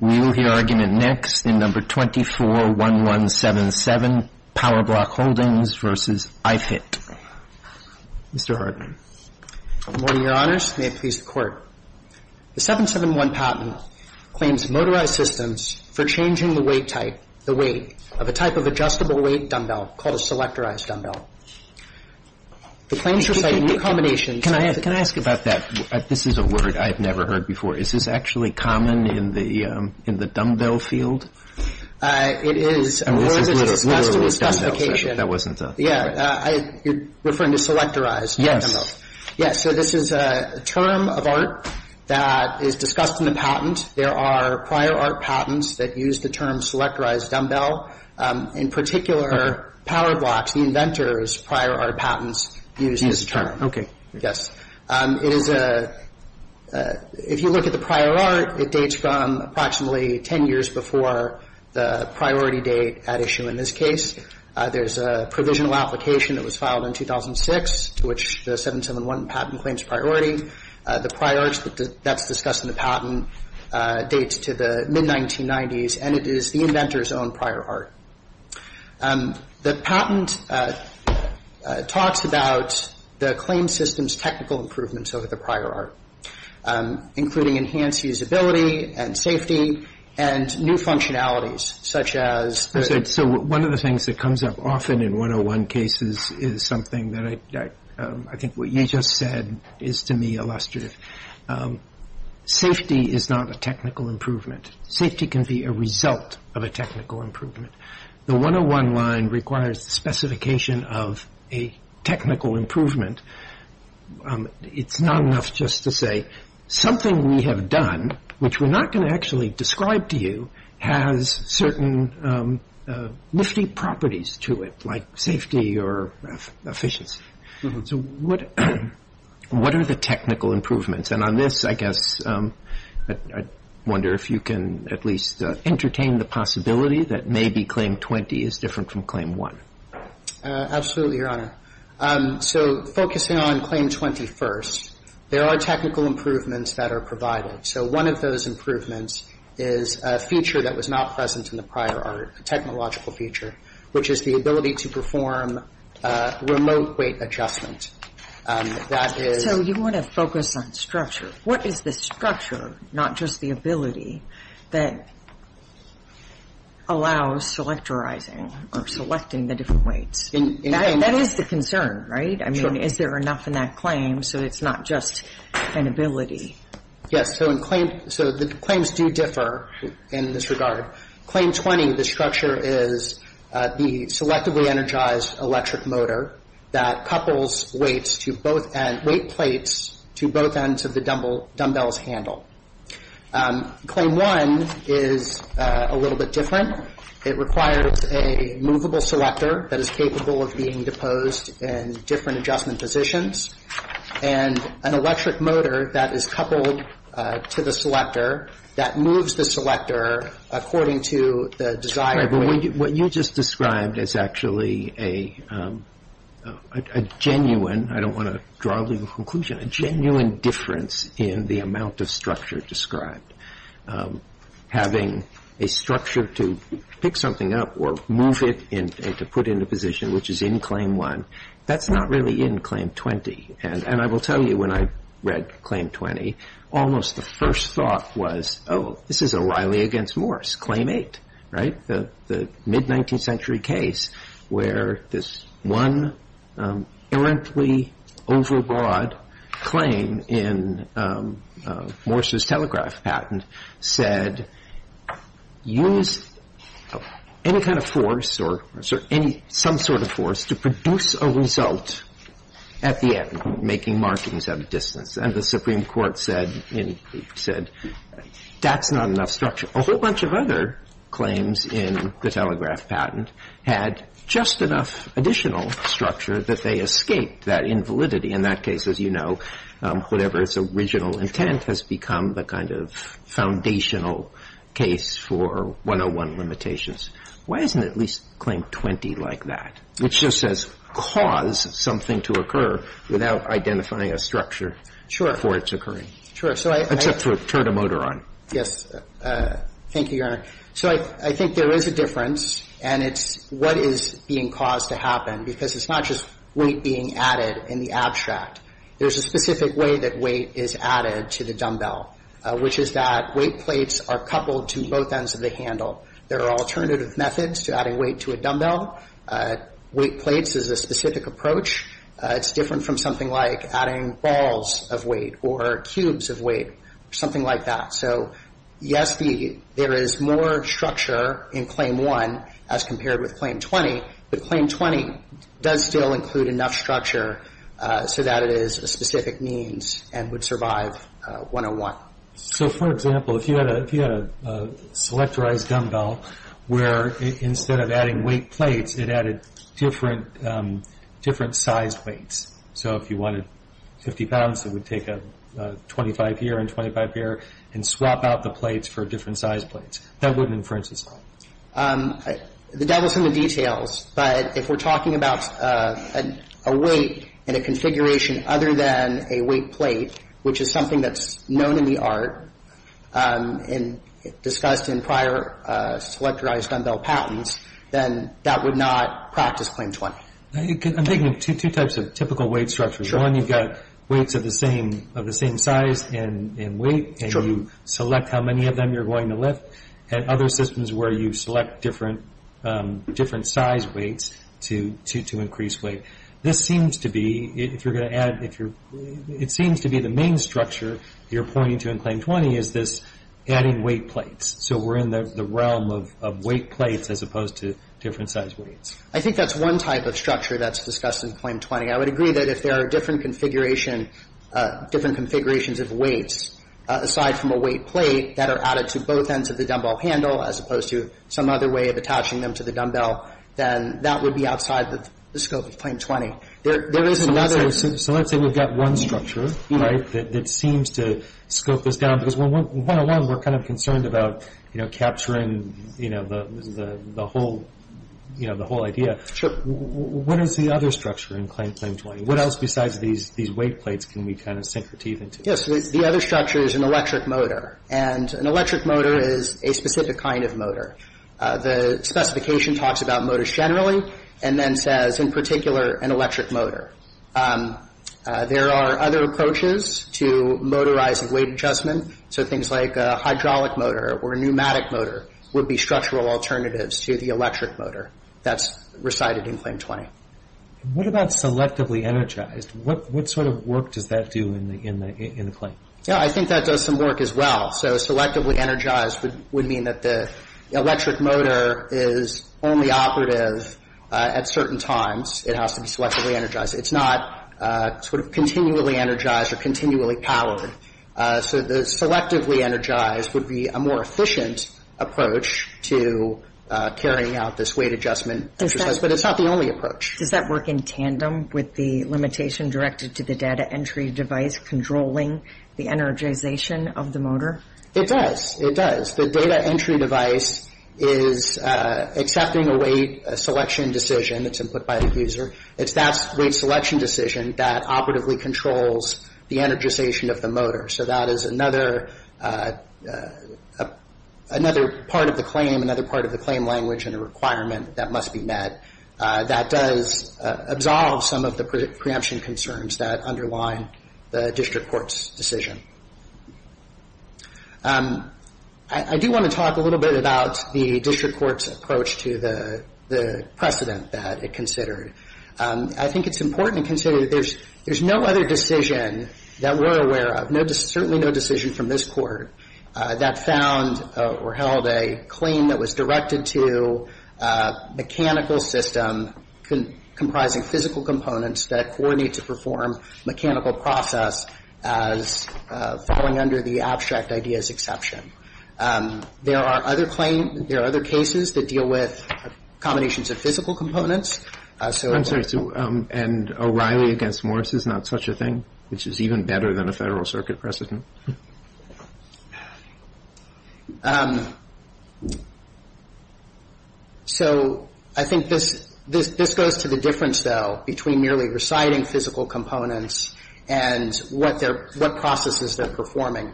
We will hear argument next in No. 24-1177, PowerBlock Holdings v. iFit. Mr. Hartman. Mr. Hartman. Good morning, Your Honors. May it please the Court. The 771 patent claims motorized systems for changing the weight type, the weight, of a type of adjustable weight dumbbell called a selectorized dumbbell. The claims recite new combinations. Can I ask about that? This is a word I have never heard before. Is this actually common in the dumbbell field? It is. I mean, this is literally a dumbbell field. That's to be discussed on occasion. That wasn't a… Yeah, you're referring to selectorized dumbbells. Yeah, so this is a term of art that is discussed in the patent. There are prior art patents that use the term selectorized dumbbell. In particular, PowerBlocks, the inventor's prior art patents, use this term. Yes. It is a – if you look at the prior art, it dates from approximately 10 years before the priority date at issue in this case. There's a provisional application that was filed in 2006 to which the 771 patent claims priority. The prior art that's discussed in the patent dates to the mid-1990s, and it is the inventor's own prior art. The patent talks about the claim system's technical improvements over the prior art, including enhanced usability and safety and new functionalities, such as… So one of the things that comes up often in 101 cases is something that I think what you just said is to me illustrative. Safety is not a technical improvement. Safety can be a result of a technical improvement. The 101 line requires the specification of a technical improvement. It's not enough just to say something we have done, which we're not going to actually describe to you, has certain nifty properties to it, like safety or efficiency. So what are the technical improvements? And on this, I guess, I wonder if you can at least entertain the possibility that maybe Claim 20 is different from Claim 1. Absolutely, Your Honor. So focusing on Claim 21st, there are technical improvements that are provided. So one of those improvements is a feature that was not present in the prior art, a technological feature, which is the ability to perform remote weight adjustment. That is… So you want to focus on structure. What is the structure, not just the ability, that allows selectorizing or selecting the different weights? That is the concern, right? Sure. I mean, is there enough in that claim so it's not just an ability? Yes. So in Claim — so the claims do differ in this regard. Claim 20, the structure is the selectively energized electric motor that couples weight plates to both ends of the dumbbell's handle. Claim 1 is a little bit different. It requires a movable selector that is capable of being deposed in different adjustment positions and an electric motor that is coupled to the selector that moves the selector according to the desired weight. What you just described is actually a genuine — I don't want to draw a legal conclusion — a genuine difference in the amount of structure described. Having a structure to pick something up or move it and to put into position, which is in Claim 1, that's not really in Claim 20. And I will tell you, when I read Claim 20, almost the first thought was, oh, this is O'Reilly against Morse. Claim 8, right, the mid-19th century case where this one errantly overbroad claim in Morse's telegraph patent said, use any kind of force or some sort of force to produce a result at the end, making markings at a distance. And the Supreme Court said that's not enough structure. A whole bunch of other claims in the telegraph patent had just enough additional structure that they escaped that invalidity. In that case, as you know, whatever its original intent has become the kind of foundational case for 101 limitations. Why isn't at least Claim 20 like that, which just says cause something to occur without identifying a structure for its occurring? Sure. Except for turn a motor on. Yes. Thank you, Your Honor. So I think there is a difference, and it's what is being caused to happen, because it's not just weight being added in the abstract. There's a specific way that weight is added to the dumbbell, which is that weight plates are coupled to both ends of the handle. There are alternative methods to adding weight to a dumbbell. Weight plates is a specific approach. It's different from something like adding balls of weight or cubes of weight or something like that. So, yes, there is more structure in Claim 1 as compared with Claim 20. But Claim 20 does still include enough structure so that it is a specific means and would survive 101. So, for example, if you had a selectorized dumbbell where instead of adding weight so if you wanted 50 pounds, it would take 25 here and 25 here and swap out the plates for different sized plates. That wouldn't infringe this claim. The devil is in the details. But if we're talking about a weight and a configuration other than a weight plate, which is something that's known in the art and discussed in prior selectorized dumbbell patents, then that would not practice Claim 20. I'm thinking of two types of typical weight structures. One, you've got weights of the same size and weight and you select how many of them you're going to lift. And other systems where you select different size weights to increase weight. This seems to be, if you're going to add, it seems to be the main structure you're pointing to in Claim 20 is this adding weight plates. So we're in the realm of weight plates as opposed to different size weights. I think that's one type of structure that's discussed in Claim 20. I would agree that if there are different configurations of weights aside from a weight plate that are added to both ends of the dumbbell handle as opposed to some other way of attaching them to the dumbbell, then that would be outside the scope of Claim 20. There is another. So let's say we've got one structure, right, that seems to scope this down. Because one alone we're kind of concerned about capturing the whole idea. What is the other structure in Claim 20? What else besides these weight plates can we kind of sink our teeth into? Yes. The other structure is an electric motor. And an electric motor is a specific kind of motor. The specification talks about motors generally and then says, in particular, an electric motor. There are other approaches to motorizing weight adjustment. So things like a hydraulic motor or a pneumatic motor would be structural alternatives to the electric motor. That's recited in Claim 20. What about selectively energized? What sort of work does that do in the Claim? I think that does some work as well. So selectively energized would mean that the electric motor is only operative at certain times. It has to be selectively energized. It's not sort of continually energized or continually powered. So the selectively energized would be a more efficient approach to carrying out this weight adjustment. But it's not the only approach. Does that work in tandem with the limitation directed to the data entry device controlling the energization of the motor? It does. It does. The data entry device is accepting a weight selection decision. It's input by the user. It's that weight selection decision that operatively controls the energization of the motor. So that is another part of the Claim, another part of the Claim language and a requirement that must be met. That does absolve some of the preemption concerns that underline the district court's decision. I do want to talk a little bit about the district court's approach to the precedent that it considered. I think it's important to consider that there's no other decision that we're aware of, certainly no decision from this court that found or held a claim that was directed to a mechanical system comprising physical components that coordinate to perform mechanical process as falling under the abstract ideas exception. There are other cases that deal with combinations of physical components. I'm sorry. And O'Reilly against Morris is not such a thing, which is even better than a Federal Circuit precedent? So I think this goes to the difference, though, between merely reciting physical components and what processes they're performing.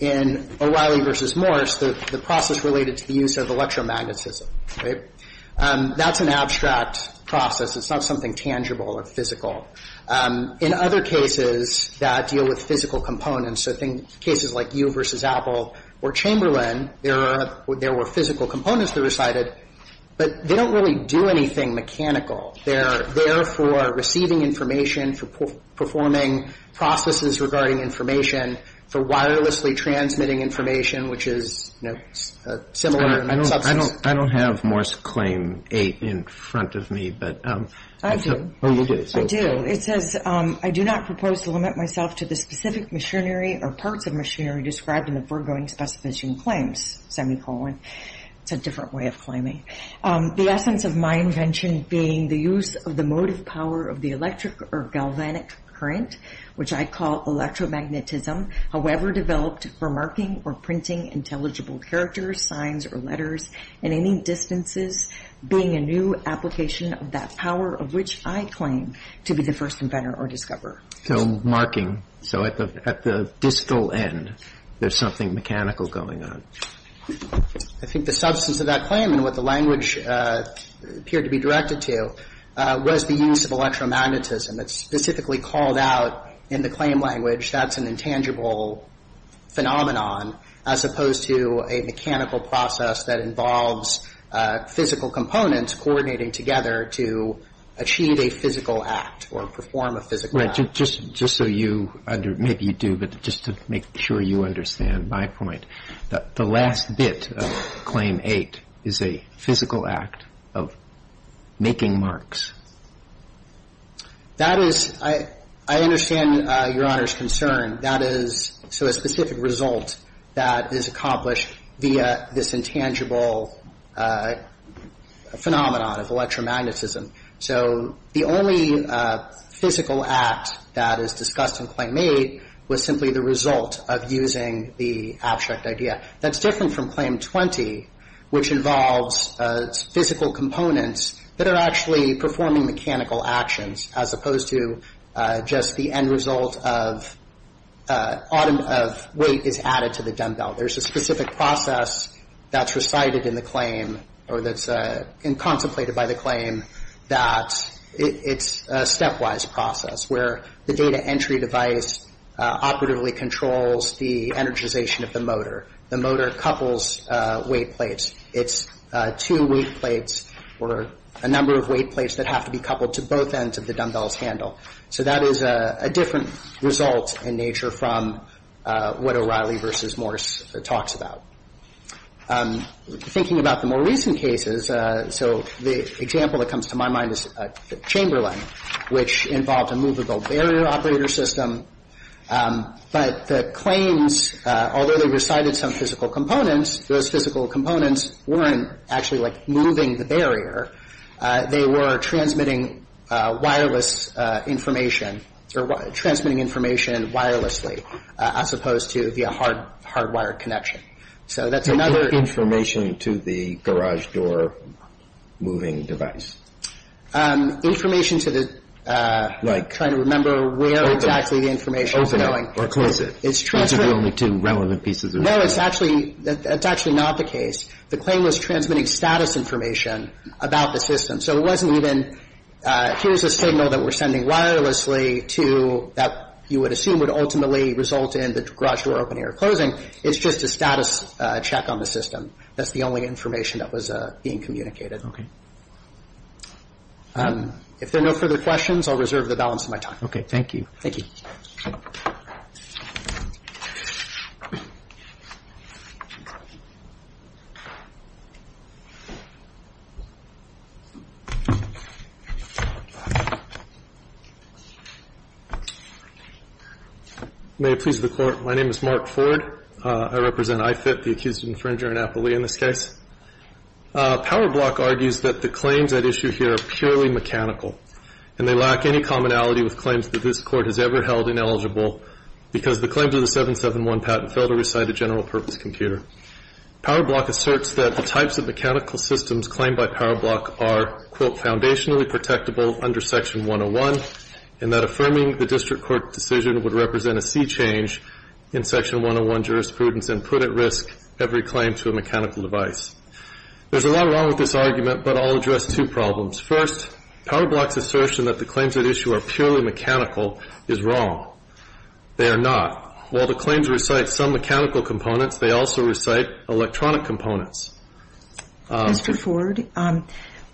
In O'Reilly versus Morris, the process related to the use of electromagnetism. That's an abstract process. It's not something tangible or physical. In other cases that deal with physical components, so I think cases like you versus Apple or Chamberlain, there were physical components that were cited, but they don't really do anything mechanical. They're there for receiving information, for performing processes regarding information, for wirelessly transmitting information, which is similar in substance. I don't have Morris Claim 8 in front of me. I do. Oh, you do. I do. It says, I do not propose to limit myself to the specific machinery or parts of machinery described in the foregoing specification claims, semicolon. It's a different way of claiming. The essence of my invention being the use of the motive power of the electric or galvanic current, which I call electromagnetism, however developed for marking or printing intelligible characters, signs, or letters in any distances, being a new application of that power of which I claim to be the first inventor or discoverer. So marking. So at the distal end, there's something mechanical going on. I think the substance of that claim and what the language appeared to be directed to was the use of electromagnetism that's specifically called out in the claim language. That's an intangible phenomenon as opposed to a mechanical process that involves physical components coordinating together to achieve a physical act or perform a physical act. Right. Just so you, maybe you do, but just to make sure you understand my point, the last bit of Claim 8 is a physical act of making marks. That is, I understand Your Honor's concern. That is so a specific result that is accomplished via this intangible phenomenon of electromagnetism. So the only physical act that is discussed in Claim 8 was simply the result of using the abstract idea. That's different from Claim 20, which involves physical components that are actually performing mechanical actions as opposed to just the end result of weight is added to the dumbbell. There's a specific process that's recited in the claim or that's contemplated by the claim that it's a stepwise process where the data entry device operatively controls the energization of the motor. The motor couples weight plates. It's two weight plates or a number of weight plates that have to be coupled to both ends of the dumbbell's handle. So that is a different result in nature from what O'Reilly v. Morse talks about. Thinking about the more recent cases, so the example that comes to my mind is Chamberlain, which involved a movable barrier operator system. But the claims, although they recited some physical components, those physical components weren't actually like moving the barrier. They were transmitting wireless information or transmitting information wirelessly as opposed to via hard wire connection. So that's another... Information to the garage door moving device. Information to the... Like... Trying to remember where exactly the information was going. Open it or close it. These are the only two relevant pieces. No, it's actually not the case. The claim was transmitting status information about the system. So it wasn't even here's a signal that we're sending wirelessly to that you would assume would ultimately result in the garage door opening or closing. It's just a status check on the system. That's the only information that was being communicated. If there are no further questions, I'll reserve the balance of my time. Okay. Thank you. Thank you. May it please the Court. My name is Mark Ford. I represent IFIT, the accused infringer and appellee in this case. PowerBlock argues that the claims at issue here are purely mechanical, and they lack any commonality with claims that this Court has ever held ineligible because the claims of the 771 patent fail to recite a general purpose computer. PowerBlock asserts that the types of mechanical systems claimed by PowerBlock are, quote, foundationally protectable under Section 101, and that affirming the district court decision would represent a sea change in Section 101 jurisprudence and put at risk every claim to a mechanical device. There's a lot wrong with this argument, but I'll address two problems. First, PowerBlock's assertion that the claims at issue are purely mechanical is wrong. They are not. While the claims recite some mechanical components, they also recite electronic components. Mr. Ford,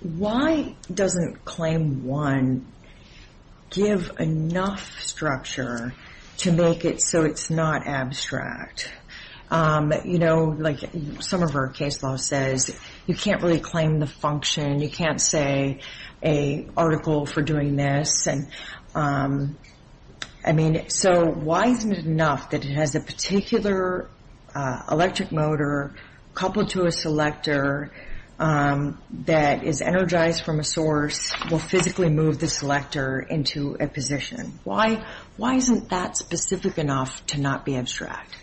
why doesn't Claim 1 give enough structure to make it so it's not abstract? You know, like some of our case law says, you can't really claim the function. You can't say a article for doing this. And, I mean, so why isn't it enough that it has a particular electric motor coupled to a selector that is energized from a source, will physically move the selector into a position? Why isn't that specific enough to not be abstract?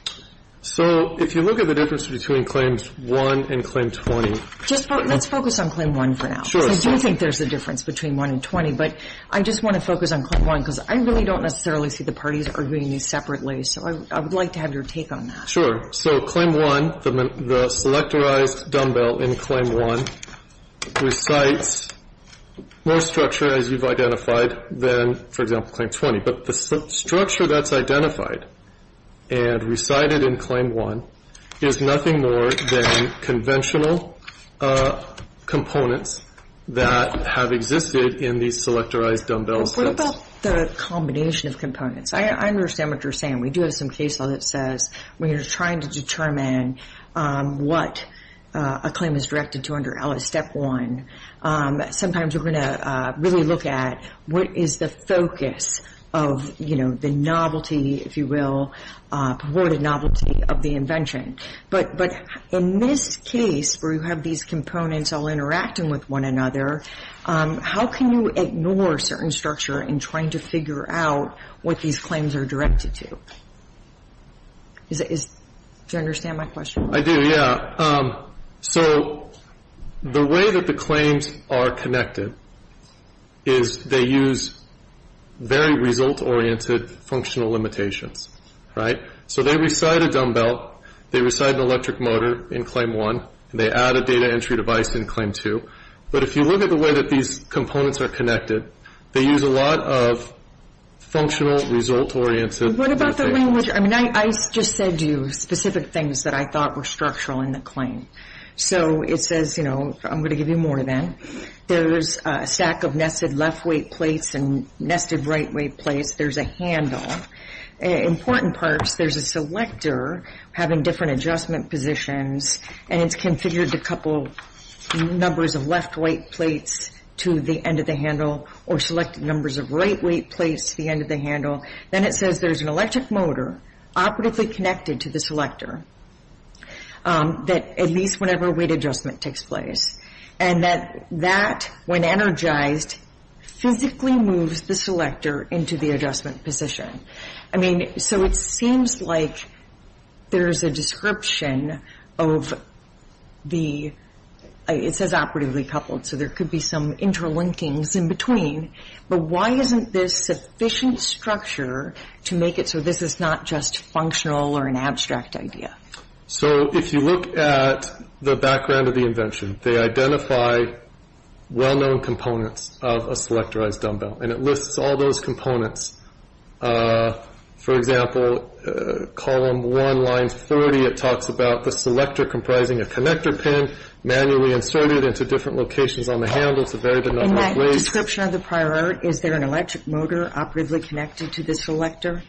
So if you look at the difference between Claims 1 and Claim 20. Let's focus on Claim 1 for now. Sure. Because I do think there's a difference between 1 and 20, but I just want to focus on Claim 1 because I really don't necessarily see the parties arguing these separately. So I would like to have your take on that. Sure. So Claim 1, the selectorized dumbbell in Claim 1, recites more structure, as you've identified, than, for example, Claim 20. But the structure that's identified and recited in Claim 1 is nothing more than conventional components that have existed in these selectorized dumbbells. What about the combination of components? I understand what you're saying. We do have some case law that says when you're trying to determine what a claim is directed to under LS Step 1, sometimes we're going to really look at what is the focus of, you know, the novelty, if you will, purported novelty of the invention. But in this case where you have these components all interacting with one another, how can you ignore certain structure in trying to figure out what these claims are directed to? Do you understand my question? I do, yeah. So the way that the claims are connected is they use very result-oriented functional limitations, right? So they recite a dumbbell, they recite an electric motor in Claim 1, and they add a data entry device in Claim 2. But if you look at the way that these components are connected, they use a lot of functional result-oriented limitations. What about the language? I mean, I just said to you specific things that I thought were structural in the claim. So it says, you know, I'm going to give you more then. There's a stack of nested left-weight plates and nested right-weight plates. There's a handle. Important parts, there's a selector having different adjustment positions, and it's configured to couple numbers of left-weight plates to the end of the handle or select numbers of right-weight plates to the end of the handle. Then it says there's an electric motor operatively connected to the selector, at least whenever weight adjustment takes place, and that that, when energized, physically moves the selector into the adjustment position. I mean, so it seems like there's a description of the – it says operatively coupled, so there could be some interlinkings in between. But why isn't this sufficient structure to make it so this is not just functional or an abstract idea? So if you look at the background of the invention, they identify well-known components of a selectorized dumbbell, and it lists all those components. For example, column 1, line 30, it talks about the selector comprising a connector pin, manually inserted into different locations on the handle to vary the number of weights. In that description of the prior art, is there an electric motor operatively connected to the selector?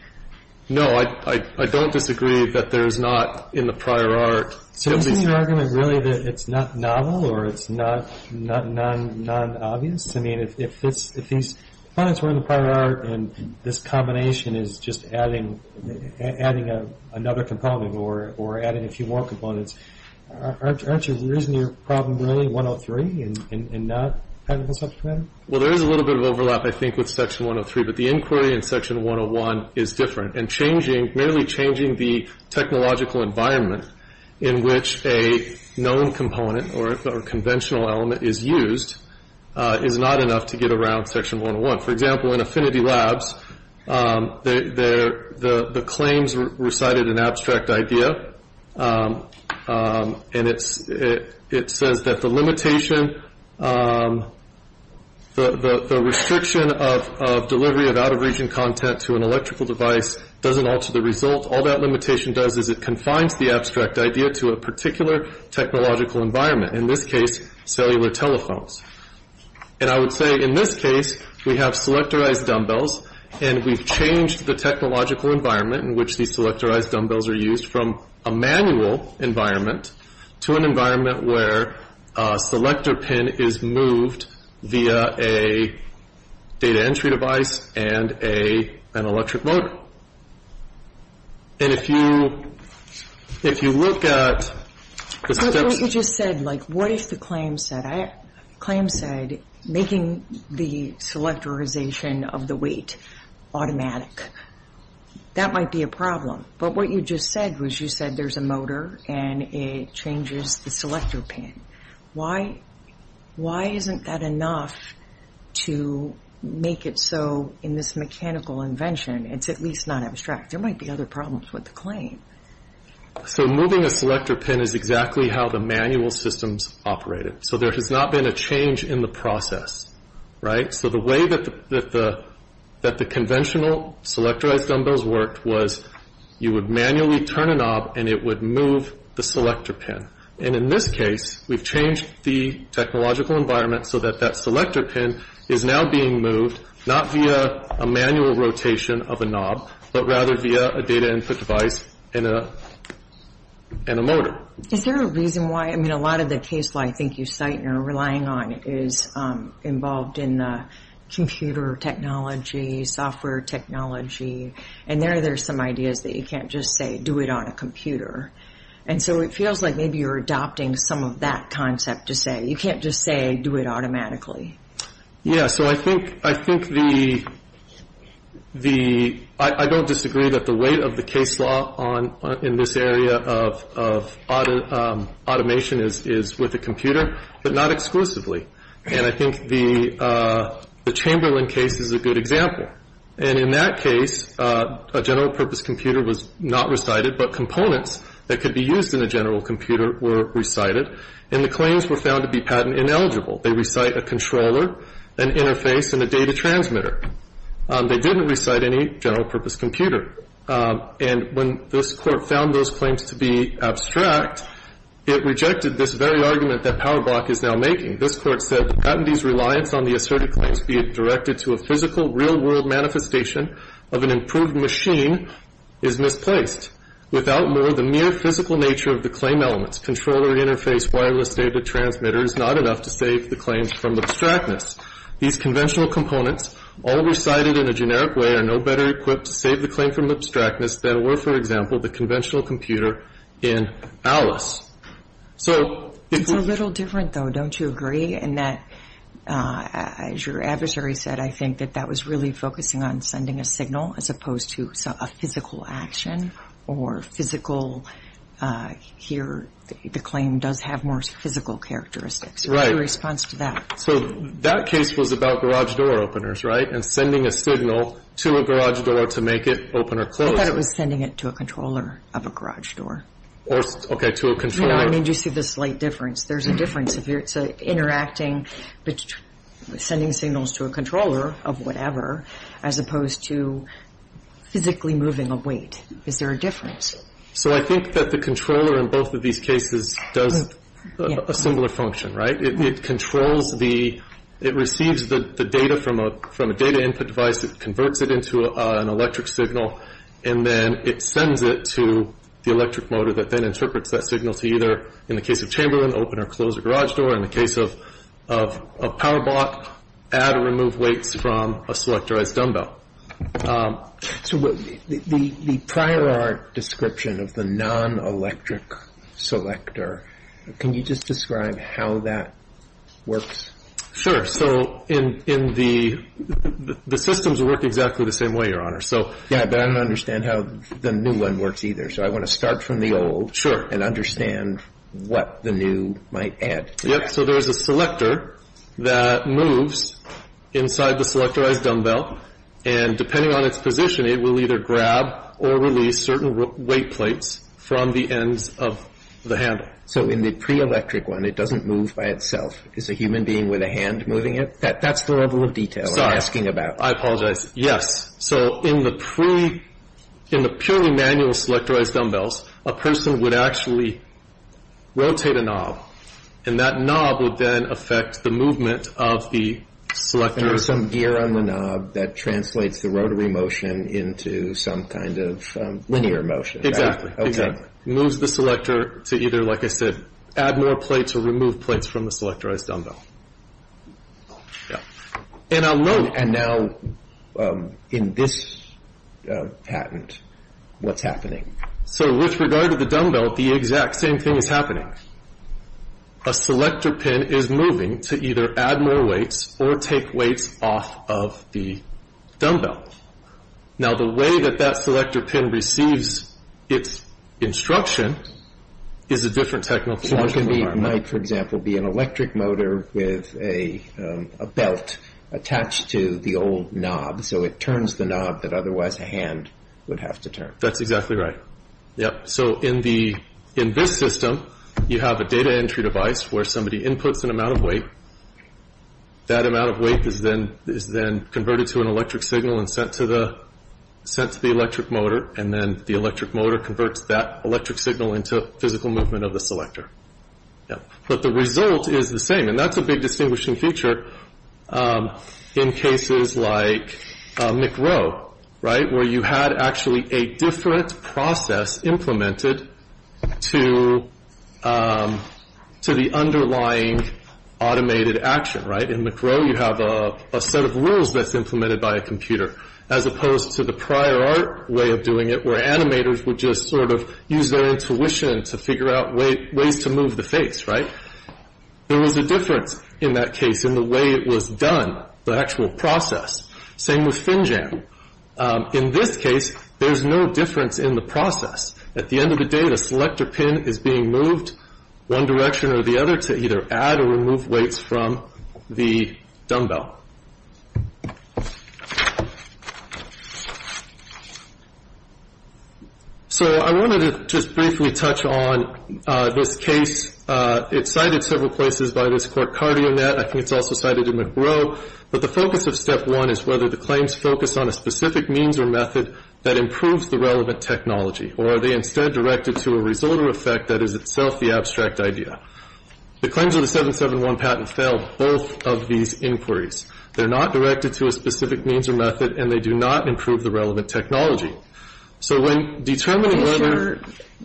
No, I don't disagree that there's not in the prior art. So isn't your argument really that it's not novel or it's not non-obvious? I mean, if these components were in the prior art and this combination is just adding another component or adding a few more components, aren't you – isn't your problem really 103 and not technical subject matter? Well, there is a little bit of overlap, I think, with section 103, but the inquiry in section 101 is different. And changing – merely changing the technological environment in which a known component or conventional element is used is not enough to get around section 101. For example, in Affinity Labs, the claims recited an abstract idea. And it says that the limitation, the restriction of delivery of out-of-region content to an electrical device doesn't alter the result. All that limitation does is it confines the abstract idea to a particular technological environment, in this case, cellular telephones. And I would say in this case, we have selectorized dumbbells, and we've changed the technological environment in which these selectorized dumbbells are used from a manual environment to an environment where a selector pin is moved via a data entry device and an electric motor. And if you look at the steps – like, what if the claim said making the selectorization of the weight automatic? That might be a problem. But what you just said was you said there's a motor, and it changes the selector pin. Why isn't that enough to make it so, in this mechanical invention, it's at least not abstract? There might be other problems with the claim. So moving a selector pin is exactly how the manual systems operated. So there has not been a change in the process, right? So the way that the conventional selectorized dumbbells worked was you would manually turn a knob, and it would move the selector pin. And in this case, we've changed the technological environment so that that selector pin is now being moved, not via a manual rotation of a knob, but rather via a data input device and a motor. Is there a reason why – I mean, a lot of the case law I think you cite and are relying on is involved in the computer technology, software technology, and there are some ideas that you can't just say do it on a computer. And so it feels like maybe you're adopting some of that concept to say you can't just say do it automatically. Yeah. So I think the – I don't disagree that the weight of the case law in this area of automation is with a computer, but not exclusively. And I think the Chamberlain case is a good example. And in that case, a general purpose computer was not recited, but components that could be used in a general computer were recited, and the claims were found to be patent ineligible. They recite a controller, an interface, and a data transmitter. They didn't recite any general purpose computer. And when this Court found those claims to be abstract, it rejected this very argument that PowerBlock is now making. This Court said, Patentee's reliance on the asserted claims, be it directed to a physical, real-world manifestation of an improved machine, is misplaced. Without more, the mere physical nature of the claim elements, controller, interface, wireless data transmitter, is not enough to save the claims from abstractness. These conventional components, all recited in a generic way, are no better equipped to save the claim from abstractness than were, for example, the conventional computer in Alice. So if we're – It's a little different, though, don't you agree? In that, as your adversary said, I think that that was really focusing on sending a signal as opposed to a physical action, or physical – here, the claim does have more physical characteristics. Right. What's your response to that? So that case was about garage door openers, right, and sending a signal to a garage door to make it open or close. I thought it was sending it to a controller of a garage door. Okay, to a controller. No, I mean, do you see the slight difference? There's a difference. If you're interacting, sending signals to a controller of whatever, as opposed to physically moving a weight. Is there a difference? So I think that the controller in both of these cases does a similar function, right? It controls the – it receives the data from a data input device. It converts it into an electric signal, and then it sends it to the electric motor that then interprets that signal to either, in the case of Chamberlain, open or close a garage door. In the case of PowerBot, add or remove weights from a selectorized dumbbell. So the prior art description of the non-electric selector, can you just describe how that works? Sure. So in the – the systems work exactly the same way, Your Honor. Yeah, but I don't understand how the new one works either. So I want to start from the old and understand what the new might add to that. So there is a selector that moves inside the selectorized dumbbell, and depending on its position, it will either grab or release certain weight plates from the ends of the handle. So in the pre-electric one, it doesn't move by itself. Is a human being with a hand moving it? That's the level of detail I'm asking about. Sorry, I apologize. Yes. So in the pre – in the purely manual selectorized dumbbells, a person would actually rotate a knob, and that knob would then affect the movement of the selector. And there's some gear on the knob that translates the rotary motion into some kind of linear motion. Okay. Moves the selector to either, like I said, add more plates or remove plates from the selectorized dumbbell. Yeah. And I'll note – And now in this patent, what's happening? So with regard to the dumbbell, the exact same thing is happening. A selector pin is moving to either add more weights or take weights off of the dumbbell. Now the way that that selector pin receives its instruction is a different technological environment. So it can be – it might, for example, be an electric motor with a belt attached to the old knob, so it turns the knob that otherwise a hand would have to turn. That's exactly right. Yep. So in this system, you have a data entry device where somebody inputs an amount of weight. That amount of weight is then converted to an electric signal and sent to the electric motor, and then the electric motor converts that electric signal into physical movement of the selector. Yep. But the result is the same, and that's a big distinguishing feature in cases like McRow, right, where you had actually a different process implemented to the underlying automated action, right? In McRow, you have a set of rules that's implemented by a computer as opposed to the prior art way of doing it where animators would just sort of use their intuition to figure out ways to move the face, right? There was a difference in that case in the way it was done, the actual process. Same with FinJam. In this case, there's no difference in the process. At the end of the day, the selector pin is being moved one direction or the other to either add or remove weights from the dumbbell. So I wanted to just briefly touch on this case. It's cited several places by this court, CardioNet. I think it's also cited in McRow. But the focus of Step 1 is whether the claims focus on a specific means or method that improves the relevant technology, or are they instead directed to a result or effect that is itself the abstract idea. The claims of the 771 patent fail both of these inquiries. They're not directed to a specific means or method, and they do not improve the relevant technology. So when determining whether you're going to use a particular method,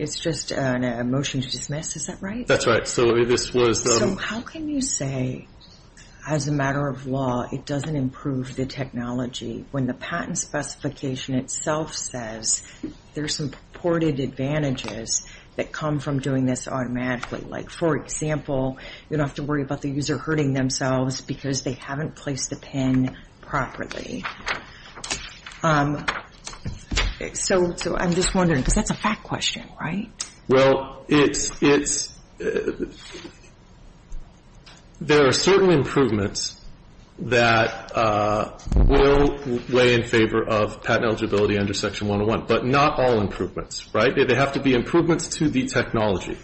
it's just a motion to dismiss, is that right? That's right. So how can you say as a matter of law it doesn't improve the technology when the patent specification itself says there are some purported advantages that come from doing this automatically? Like, for example, you don't have to worry about the user hurting themselves because they haven't placed the pin properly. So I'm just wondering, because that's a fact question, right? Well, it's – there are certain improvements that will weigh in favor of patent eligibility under Section 101, but not all improvements, right? They have to be improvements to the technology.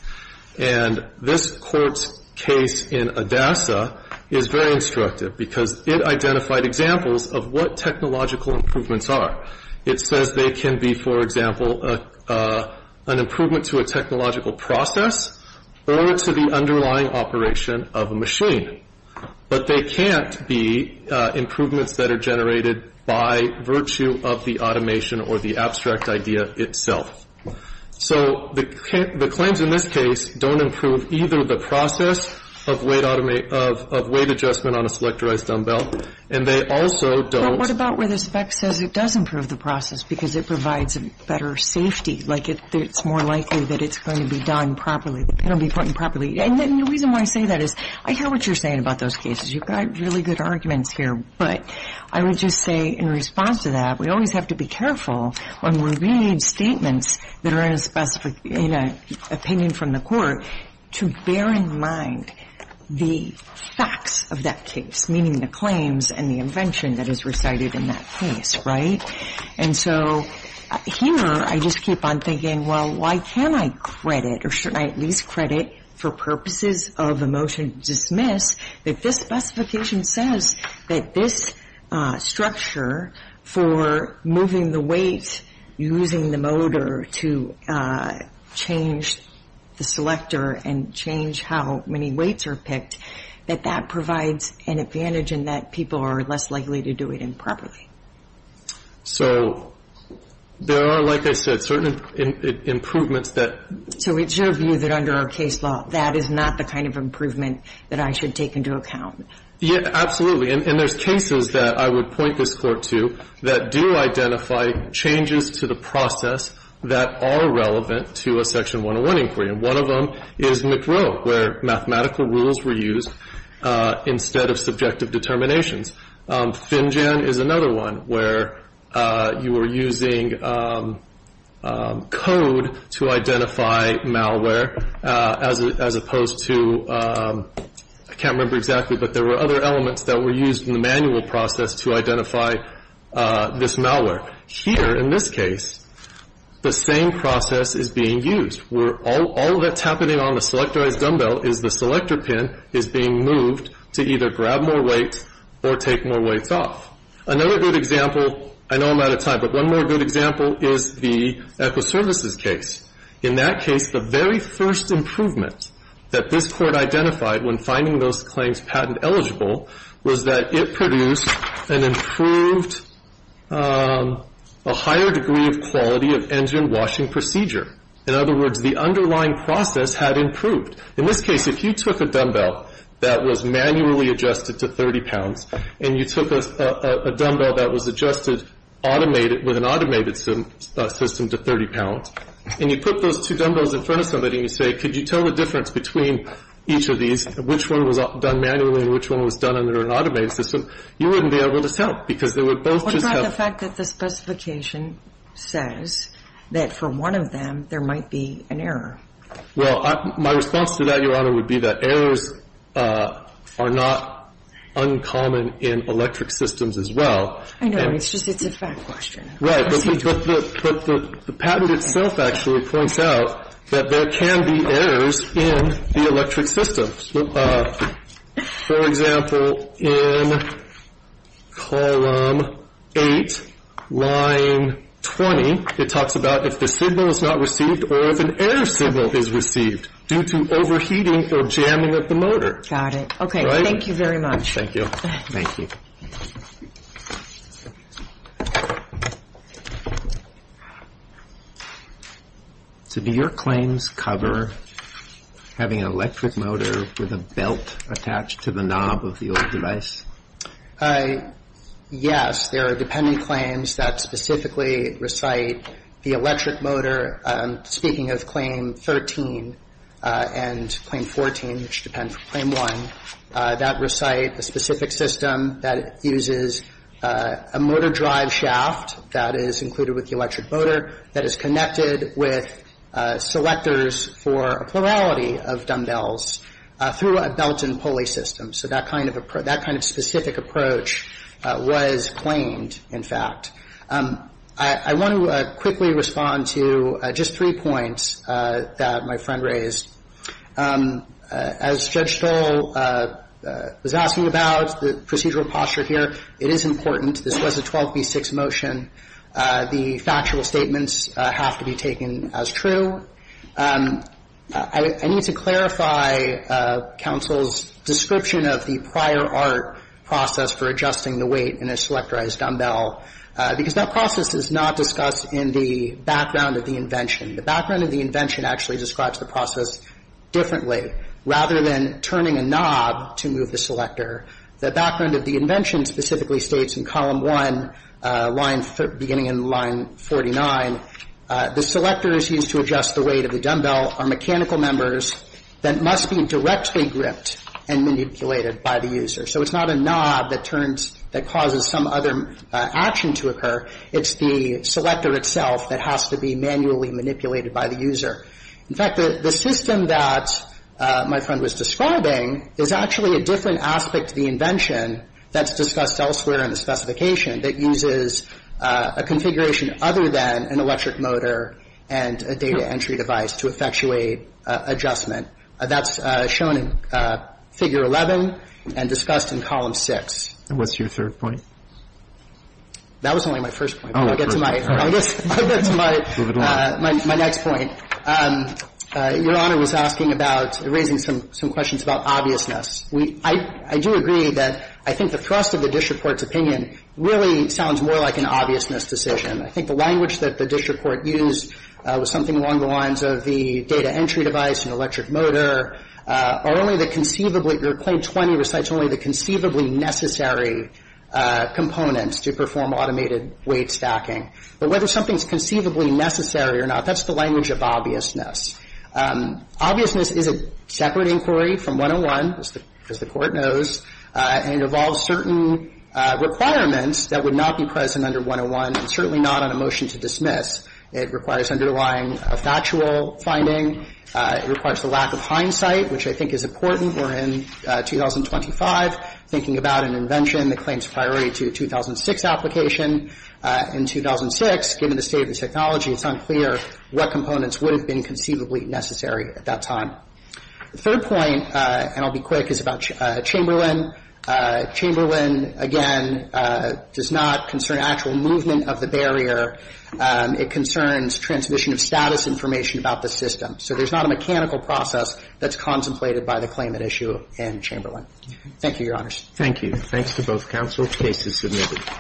And this Court's case in Adassa is very instructive because it identified examples of what technological improvements are. It says they can be, for example, an improvement to a technological process or to the underlying operation of a machine. But they can't be improvements that are generated by virtue of the automation or the abstract idea itself. So the claims in this case don't improve either the process of weight adjustment on a selectorized dumbbell, and they also don't – But what about where the spec says it does improve the process because it provides a better safety? Like, it's more likely that it's going to be done properly, the pin will be put in properly. And the reason why I say that is I hear what you're saying about those cases. You've got really good arguments here. But I would just say in response to that, we always have to be careful when we read statements that are in a specific – in an opinion from the Court to bear in mind the facts of that case, meaning the claims and the invention that is recited in that case. Right? And so here I just keep on thinking, well, why can't I credit or shouldn't I at least credit for purposes of a motion to dismiss that this specification says that this structure for moving the weight, using the motor to change the selector and change how many weights are picked, that that provides an advantage in that people are less likely to do it improperly. So there are, like I said, certain improvements that – So it's your view that under our case law, that is not the kind of improvement that I should take into account? Yeah, absolutely. And there's cases that I would point this Court to that do identify changes to the process that are relevant to a Section 101 inquiry. And one of them is McRow, where mathematical rules were used instead of subjective determinations. Finjan is another one where you were using code to identify malware, as opposed to – I can't remember exactly, but there were other elements that were used in the manual process to identify this malware. Here, in this case, the same process is being used. All that's happening on the selectorized dumbbell is the selector pin is being moved to either grab more weights or take more weights off. Another good example – I know I'm out of time, but one more good example is the Echo Services case. In that case, the very first improvement that this Court identified when finding those claims patent eligible was that it produced an improved – a higher degree of quality of engine washing procedure. In other words, the underlying process had improved. In this case, if you took a dumbbell that was manually adjusted to 30 pounds and you took a dumbbell that was adjusted with an automated system to 30 pounds and you put those two dumbbells in front of somebody and you say, could you tell the difference between each of these, which one was done manually and which one was done under an automated system, you wouldn't be able to tell because they would both just have – What about the fact that the specification says that for one of them there might be an error? Well, my response to that, Your Honor, would be that errors are not uncommon in electric systems as well. I know. It's just it's a fact question. Right. But the patent itself actually points out that there can be errors in the electric systems. For example, in column 8, line 20, it talks about if the signal is not received or if an error signal is received due to overheating or jamming of the motor. Got it. Okay. Thank you very much. Thank you. Thank you. So do your claims cover having an electric motor with a belt attached to the knob of the old device? Yes. There are dependent claims that specifically recite the electric motor. Speaking of Claim 13 and Claim 14, which depend for Claim 1, that recite a specific system that uses a motor drive shaft that is included with the electric motor that is connected with selectors for a plurality of dumbbells through a belt and pulley system. So that kind of specific approach was claimed, in fact. I want to quickly respond to just three points that my friend raised. As Judge Stoll was asking about, the procedural posture here, it is important. This was a 12b6 motion. The factual statements have to be taken as true. I need to clarify counsel's description of the prior art process for adjusting the weight in a selectorized dumbbell, because that process is not discussed in the background of the invention. The background of the invention actually describes the process differently. Rather than turning a knob to move the selector, the background of the invention specifically states in Column 1, beginning in Line 49, the selectors used to adjust the weight of the dumbbell are mechanical members that must be directly gripped and manipulated by the user. So it's not a knob that turns, that causes some other action to occur. It's the selector itself that has to be manually manipulated by the user. In fact, the system that my friend was describing is actually a different aspect to the invention that's discussed elsewhere in the specification that uses a configuration other than an electric motor and a data entry device to effectuate adjustment. That's shown in Figure 11 and discussed in Column 6. And what's your third point? That was only my first point. I'll get to my next point. Your Honor was asking about, raising some questions about obviousness. I do agree that I think the thrust of the district court's opinion really sounds more like an obviousness decision. I think the language that the district court used was something along the lines of the data entry device and electric motor are only the conceivably, your Claim 20 recites only the conceivably necessary components to perform automated weight stacking. But whether something's conceivably necessary or not, that's the language of obviousness. Obviousness is a separate inquiry from 101, as the Court knows, and it involves certain requirements that would not be present under 101 and certainly not on a motion to dismiss. It requires underlying factual finding. It requires the lack of hindsight, which I think is important. We're in 2025 thinking about an invention that claims priority to a 2006 application. In 2006, given the state of the technology, it's unclear what components would have been conceivably necessary at that time. The third point, and I'll be quick, is about Chamberlain. Chamberlain, again, does not concern actual movement of the barrier. It concerns transmission of status information about the system. So there's not a mechanical process that's contemplated by the claimant issue in Chamberlain. Thank you, Your Honors. Thank you. Thanks to both counsel. The case is submitted.